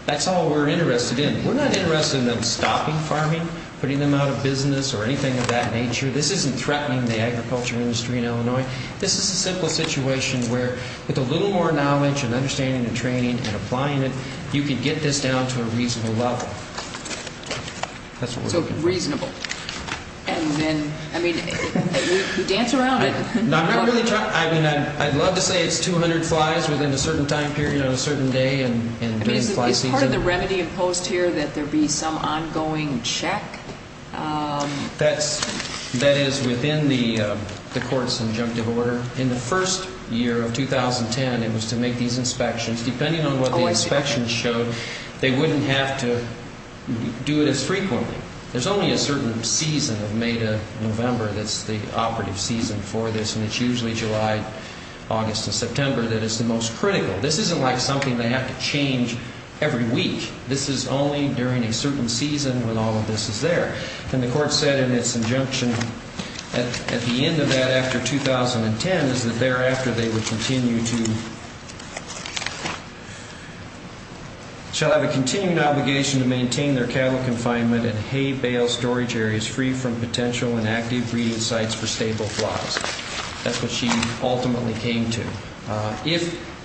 That's all we're interested in. We're not interested in them stopping farming, putting them out of business or anything of that nature. This isn't threatening the agriculture industry in Illinois. This is a simple situation where with a little more knowledge and understanding and training and applying it, you can get this down to a reasonable level. So reasonable. And then, I mean, you dance around it. I'd love to say it's 200 flies within a certain time period on a certain day and during fly season. Is part of the remedy imposed here that there be some ongoing check? That is within the court's injunctive order. In the first year of 2010, it was to make these inspections. Depending on what the inspections showed, they wouldn't have to do it as frequently. There's only a certain season of May to November that's the operative season for this, and it's usually July, August, and September that is the most critical. This isn't like something they have to change every week. This is only during a certain season when all of this is there. And the court said in its injunction at the end of that, after 2010, is that thereafter they would continue to shall have a continuing obligation to maintain their cattle confinement and hay bale storage areas free from potential inactive breeding sites for stable flocks. That's what she ultimately came to.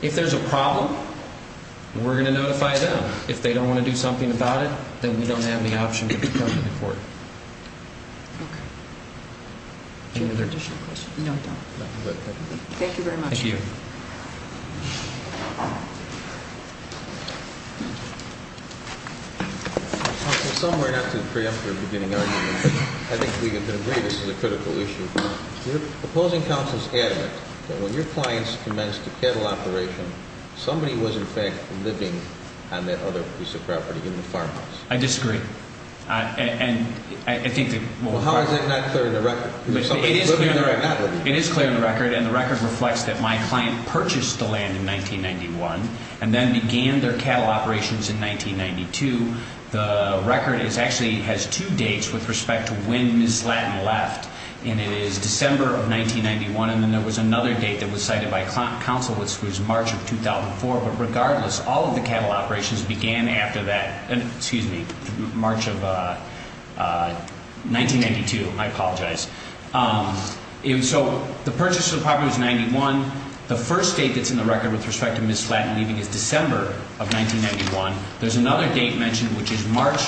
If there's a problem, we're going to notify them. If they don't want to do something about it, then we don't have any option but to come to the court. Okay. Any other additional questions? No, I don't. Okay. Thank you very much. Thank you. Counsel, somewhere, not to preempt your beginning argument, I think we can agree this is a critical issue. Your opposing counsel is adamant that when your clients commenced a cattle operation, somebody was, in fact, living on that other piece of property in the farmhouse. I disagree. How is that not clear in the record? It is clear in the record, and the record reflects that my client purchased the land in 1991 and then began their cattle operations in 1992. The record actually has two dates with respect to when Ms. Slatton left, and it is December of 1991, and then there was another date that was cited by counsel, which was March of 2004. But regardless, all of the cattle operations began after that, excuse me, March of 1992. I apologize. So the purchase of the property was in 91. The first date that's in the record with respect to Ms. Slatton leaving is December of 1991. There's another date mentioned, which is March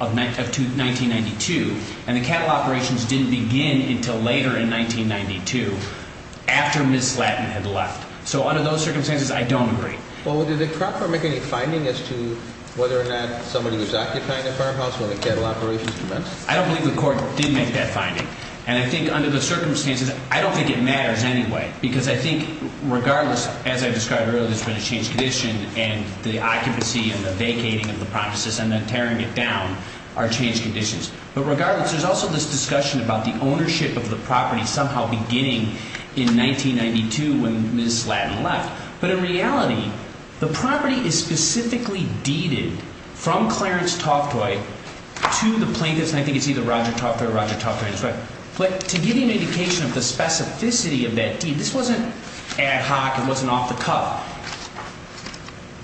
of 1992, and the cattle operations didn't begin until later in 1992 after Ms. Slatton had left. So under those circumstances, I don't agree. Well, did the court make any finding as to whether or not somebody was occupying the farmhouse when the cattle operations commenced? I don't believe the court did make that finding, and I think under the circumstances, I don't think it matters anyway because I think regardless, as I described earlier, there's been a changed condition, and the occupancy and the vacating of the premises and then tearing it down are changed conditions. But regardless, there's also this discussion about the ownership of the property somehow beginning in 1992 when Ms. Slatton left. But in reality, the property is specifically deeded from Clarence Toftoy to the plaintiffs, and I think it's either Roger Toftoy or Roger Toftoy on this record. But to give you an indication of the specificity of that deed, this wasn't ad hoc. It wasn't off the cuff.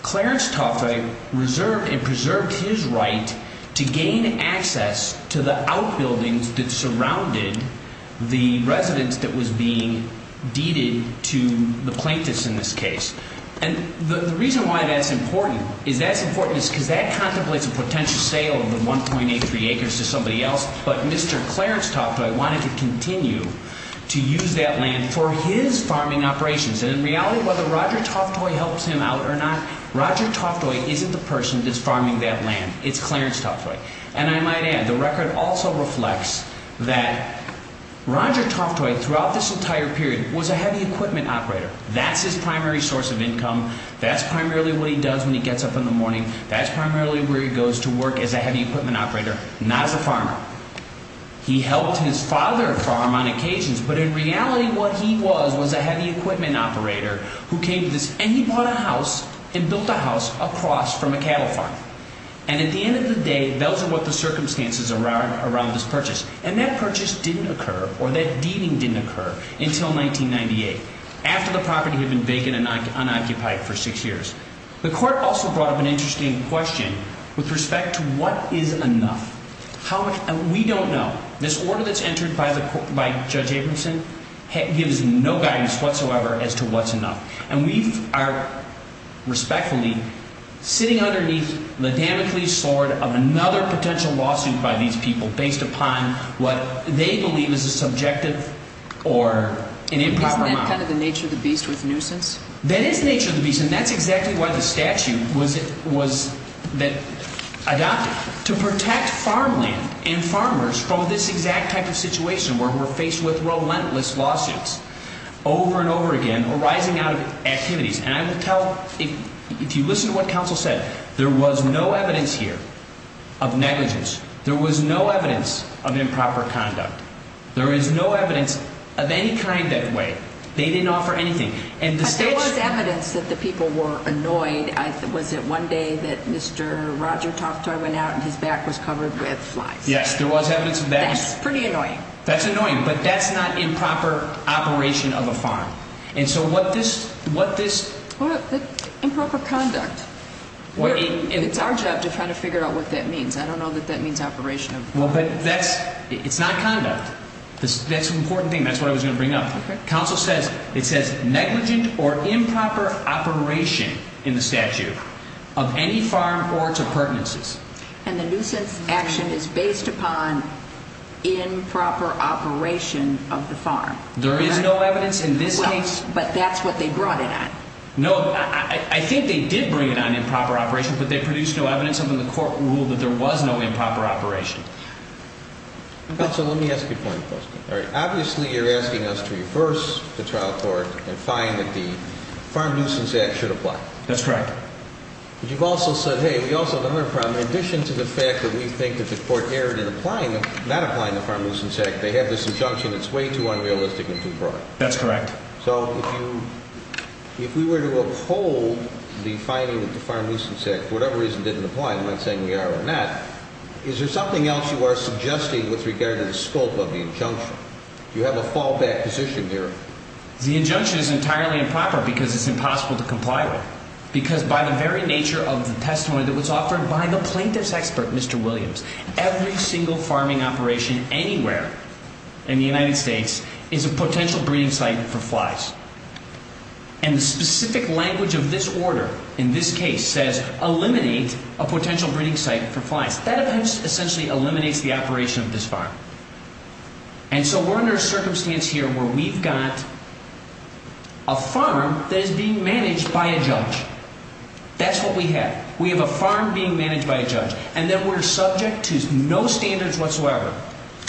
Clarence Toftoy reserved and preserved his right to gain access to the outbuildings that surrounded the residence that was being deeded to the plaintiffs in this case. And the reason why that's important is that's important because that contemplates a potential sale of the 1.83 acres to somebody else, but Mr. Clarence Toftoy wanted to continue to use that land for his farming operations. And in reality, whether Roger Toftoy helps him out or not, Roger Toftoy isn't the person that's farming that land. It's Clarence Toftoy. And I might add the record also reflects that Roger Toftoy throughout this entire period was a heavy equipment operator. That's his primary source of income. That's primarily what he does when he gets up in the morning. That's primarily where he goes to work as a heavy equipment operator, not as a farmer. He helped his father farm on occasions, but in reality what he was was a heavy equipment operator who came to this and he bought a house and built a house across from a cattle farm. And at the end of the day, those are what the circumstances are around this purchase. And that purchase didn't occur or that deeding didn't occur until 1998, after the property had been vacant and unoccupied for six years. The court also brought up an interesting question with respect to what is enough. We don't know. This order that's entered by Judge Abramson gives no guidance whatsoever as to what's enough. And we are respectfully sitting underneath the Damocles sword of another potential lawsuit by these people based upon what they believe is a subjective or an improper model. Isn't that kind of the nature of the beast with nuisance? That is the nature of the beast, and that's exactly why the statute was adopted. To protect farmland and farmers from this exact type of situation where we're faced with relentless lawsuits over and over again arising out of activities. And I will tell, if you listen to what counsel said, there was no evidence here of negligence. There was no evidence of improper conduct. There is no evidence of any kind that way. They didn't offer anything. But there was evidence that the people were annoyed. Was it one day that Mr. Roger Toftoy went out and his back was covered with flies? Yes, there was evidence of that. That's pretty annoying. That's annoying, but that's not improper operation of a farm. And so what this – Well, improper conduct. It's our job to try to figure out what that means. I don't know that that means operation of – Well, but that's – it's not conduct. That's an important thing. That's what I was going to bring up. Okay. Counsel says – it says negligent or improper operation in the statute of any farm or its appurtenances. And the nuisance action is based upon improper operation of the farm. There is no evidence in this case – Well, but that's what they brought it on. No, I think they did bring it on improper operation, but they produced no evidence under the court rule that there was no improper operation. Counsel, let me ask you a point of question. Obviously, you're asking us to reverse the trial court and find that the Farm Nuisance Act should apply. That's correct. But you've also said, hey, we also have another problem. In addition to the fact that we think that the court erred in applying – not applying the Farm Nuisance Act, they have this injunction that's way too unrealistic and too broad. That's correct. So if you – if we were to uphold the finding that the Farm Nuisance Act for whatever reason didn't apply, I'm not saying we are or not, is there something else you are suggesting with regard to the scope of the injunction? Do you have a fallback position here? The injunction is entirely improper because it's impossible to comply with. Because by the very nature of the testimony that was offered by the plaintiff's expert, Mr. Williams, every single farming operation anywhere in the United States is a potential breeding site for flies. And the specific language of this order in this case says eliminate a potential breeding site for flies. That essentially eliminates the operation of this farm. And so we're under a circumstance here where we've got a farm that is being managed by a judge. That's what we have. We have a farm being managed by a judge, and then we're subject to no standards whatsoever,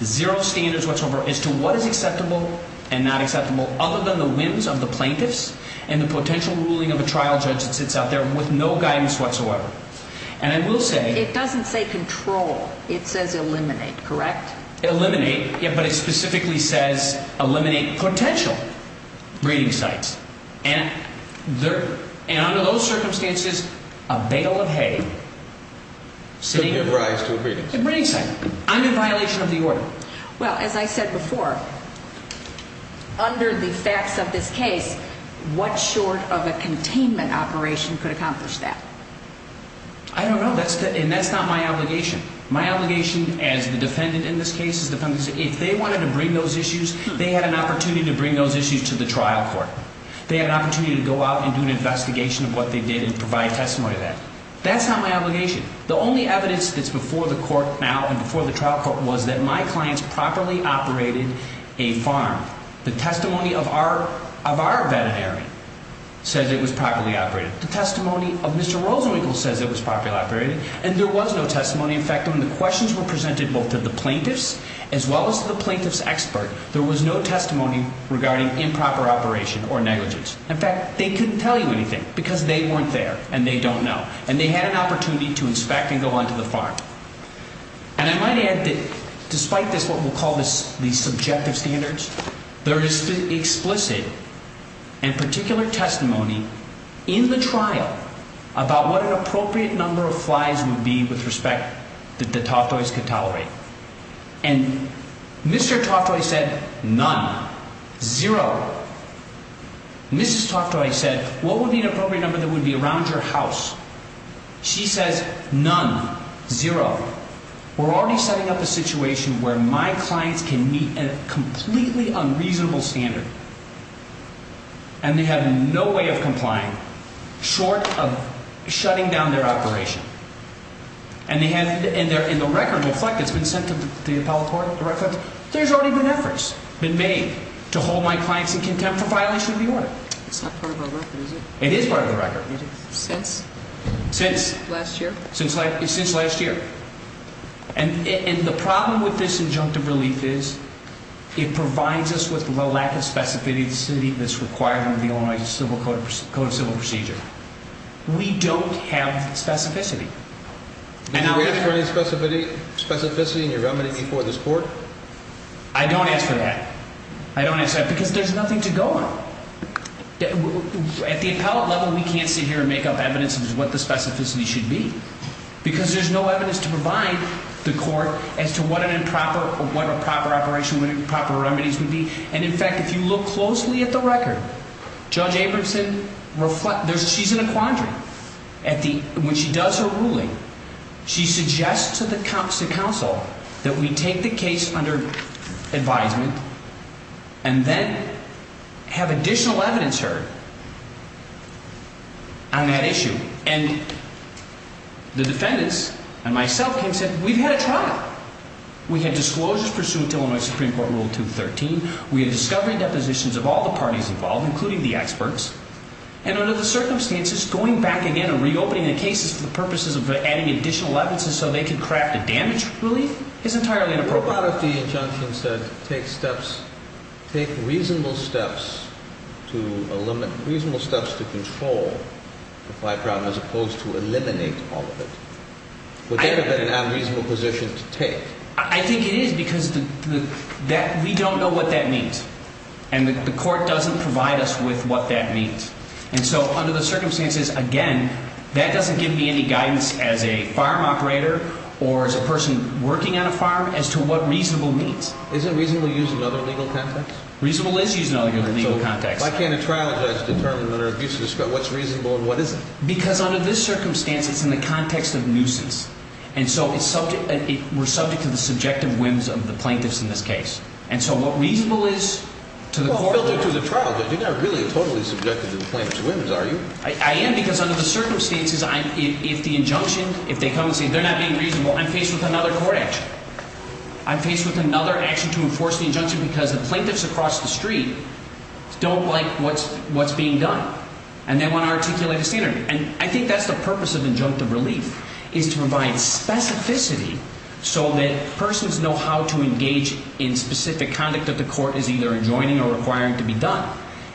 zero standards whatsoever as to what is acceptable and not acceptable other than the whims of the plaintiffs and the potential ruling of a trial judge that sits out there with no guidance whatsoever. And I will say – It doesn't say control. It says eliminate, correct? Eliminate. Yeah, but it specifically says eliminate potential breeding sites. And under those circumstances, a bale of hay sitting – Could give rise to a breeding site. A breeding site. I'm in violation of the order. Well, as I said before, under the facts of this case, what short of a containment operation could accomplish that? I don't know, and that's not my obligation. My obligation as the defendant in this case is if they wanted to bring those issues, they had an opportunity to bring those issues to the trial court. They had an opportunity to go out and do an investigation of what they did and provide testimony of that. That's not my obligation. The only evidence that's before the court now and before the trial court was that my clients properly operated a farm. The testimony of our veterinary says it was properly operated. The testimony of Mr. Rosenwinkel says it was properly operated. And there was no testimony. In fact, when the questions were presented both to the plaintiffs as well as to the plaintiff's expert, there was no testimony regarding improper operation or negligence. In fact, they couldn't tell you anything because they weren't there and they don't know. And they had an opportunity to inspect and go on to the farm. And I might add that despite this, what we'll call these subjective standards, there is explicit and particular testimony in the trial about what an appropriate number of flies would be with respect that the Toftoys could tolerate. And Mr. Toftoy said none, zero. Mrs. Toftoy said, what would be an appropriate number that would be around your house? She says none, zero. We're already setting up a situation where my clients can meet a completely unreasonable standard. And they have no way of complying short of shutting down their operation. And they're in the record reflect it's been sent to the appellate court. There's already been efforts been made to hold my clients in contempt for violation of the order. It's not part of our record, is it? It is part of the record. Since? Since. Last year? Since last year. And the problem with this injunctive relief is it provides us with the lack of specificity that's required under the Illinois Code of Civil Procedure. We don't have specificity. Did you ask for any specificity in your remedy before this court? I don't ask for that. I don't ask for that because there's nothing to go on. At the appellate level, we can't sit here and make up evidence as to what the specificity should be. Because there's no evidence to provide the court as to what a proper operation, what proper remedies would be. And, in fact, if you look closely at the record, Judge Abramson, she's in a quandary. When she does her ruling, she suggests to the counsel that we take the case under advisement and then have additional evidence heard on that issue. And the defendants and myself came and said, we've had a trial. We had disclosures pursuant to Illinois Supreme Court Rule 213. We had discovery depositions of all the parties involved, including the experts. And under the circumstances, going back again and reopening the cases for the purposes of adding additional evidences so they can craft a damage relief is entirely inappropriate. What about if the injunction said take reasonable steps to control the fight problem as opposed to eliminate all of it? Would that have been a reasonable position to take? I think it is because we don't know what that means. And the court doesn't provide us with what that means. And so under the circumstances, again, that doesn't give me any guidance as a farm operator or as a person working on a farm as to what reasonable means. Isn't reasonable used in other legal contexts? Reasonable is used in other legal contexts. So why can't a trial judge determine under abuse of discretion what's reasonable and what isn't? Because under this circumstance, it's in the context of nuisance. And so we're subject to the subjective whims of the plaintiffs in this case. And so what reasonable is to the court? You're not really totally subjected to the plaintiff's whims, are you? I am because under the circumstances, if the injunction, if they come and say they're not being reasonable, I'm faced with another court action. I'm faced with another action to enforce the injunction because the plaintiffs across the street don't like what's being done. And they want to articulate a standard. And I think that's the purpose of injunctive relief, is to provide specificity so that persons know how to engage in specific conduct that the court is either enjoining or requiring to be done.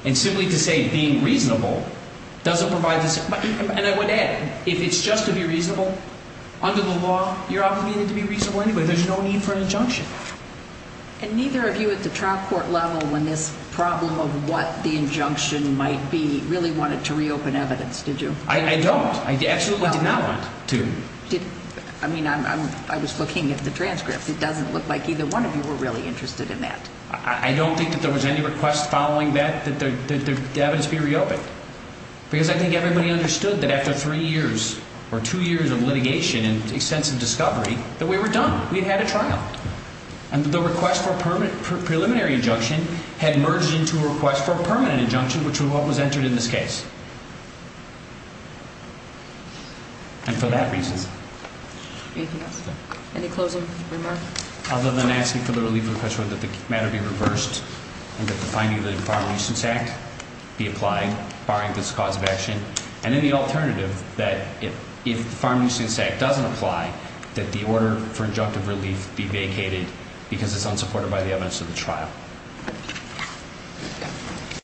And simply to say being reasonable doesn't provide the same. And I would add, if it's just to be reasonable, under the law, you're obligated to be reasonable anyway. And neither of you at the trial court level, when this problem of what the injunction might be, really wanted to reopen evidence, did you? I don't. I absolutely did not want to. I mean, I was looking at the transcript. It doesn't look like either one of you were really interested in that. I don't think that there was any request following that that the evidence be reopened. Because I think everybody understood that after three years or two years of litigation and extensive discovery, that we were done. We had had a trial. And the request for a preliminary injunction had merged into a request for a permanent injunction, which was what was entered in this case. And for that reason. Anything else? Any closing remarks? Other than asking for the relief of the question whether the matter be reversed and that the finding of the Farm Nuisance Act be applied, barring this cause of action. And then the alternative that if the Farm Nuisance Act doesn't apply, that the order for injunctive relief be vacated because it's unsupported by the evidence of the trial.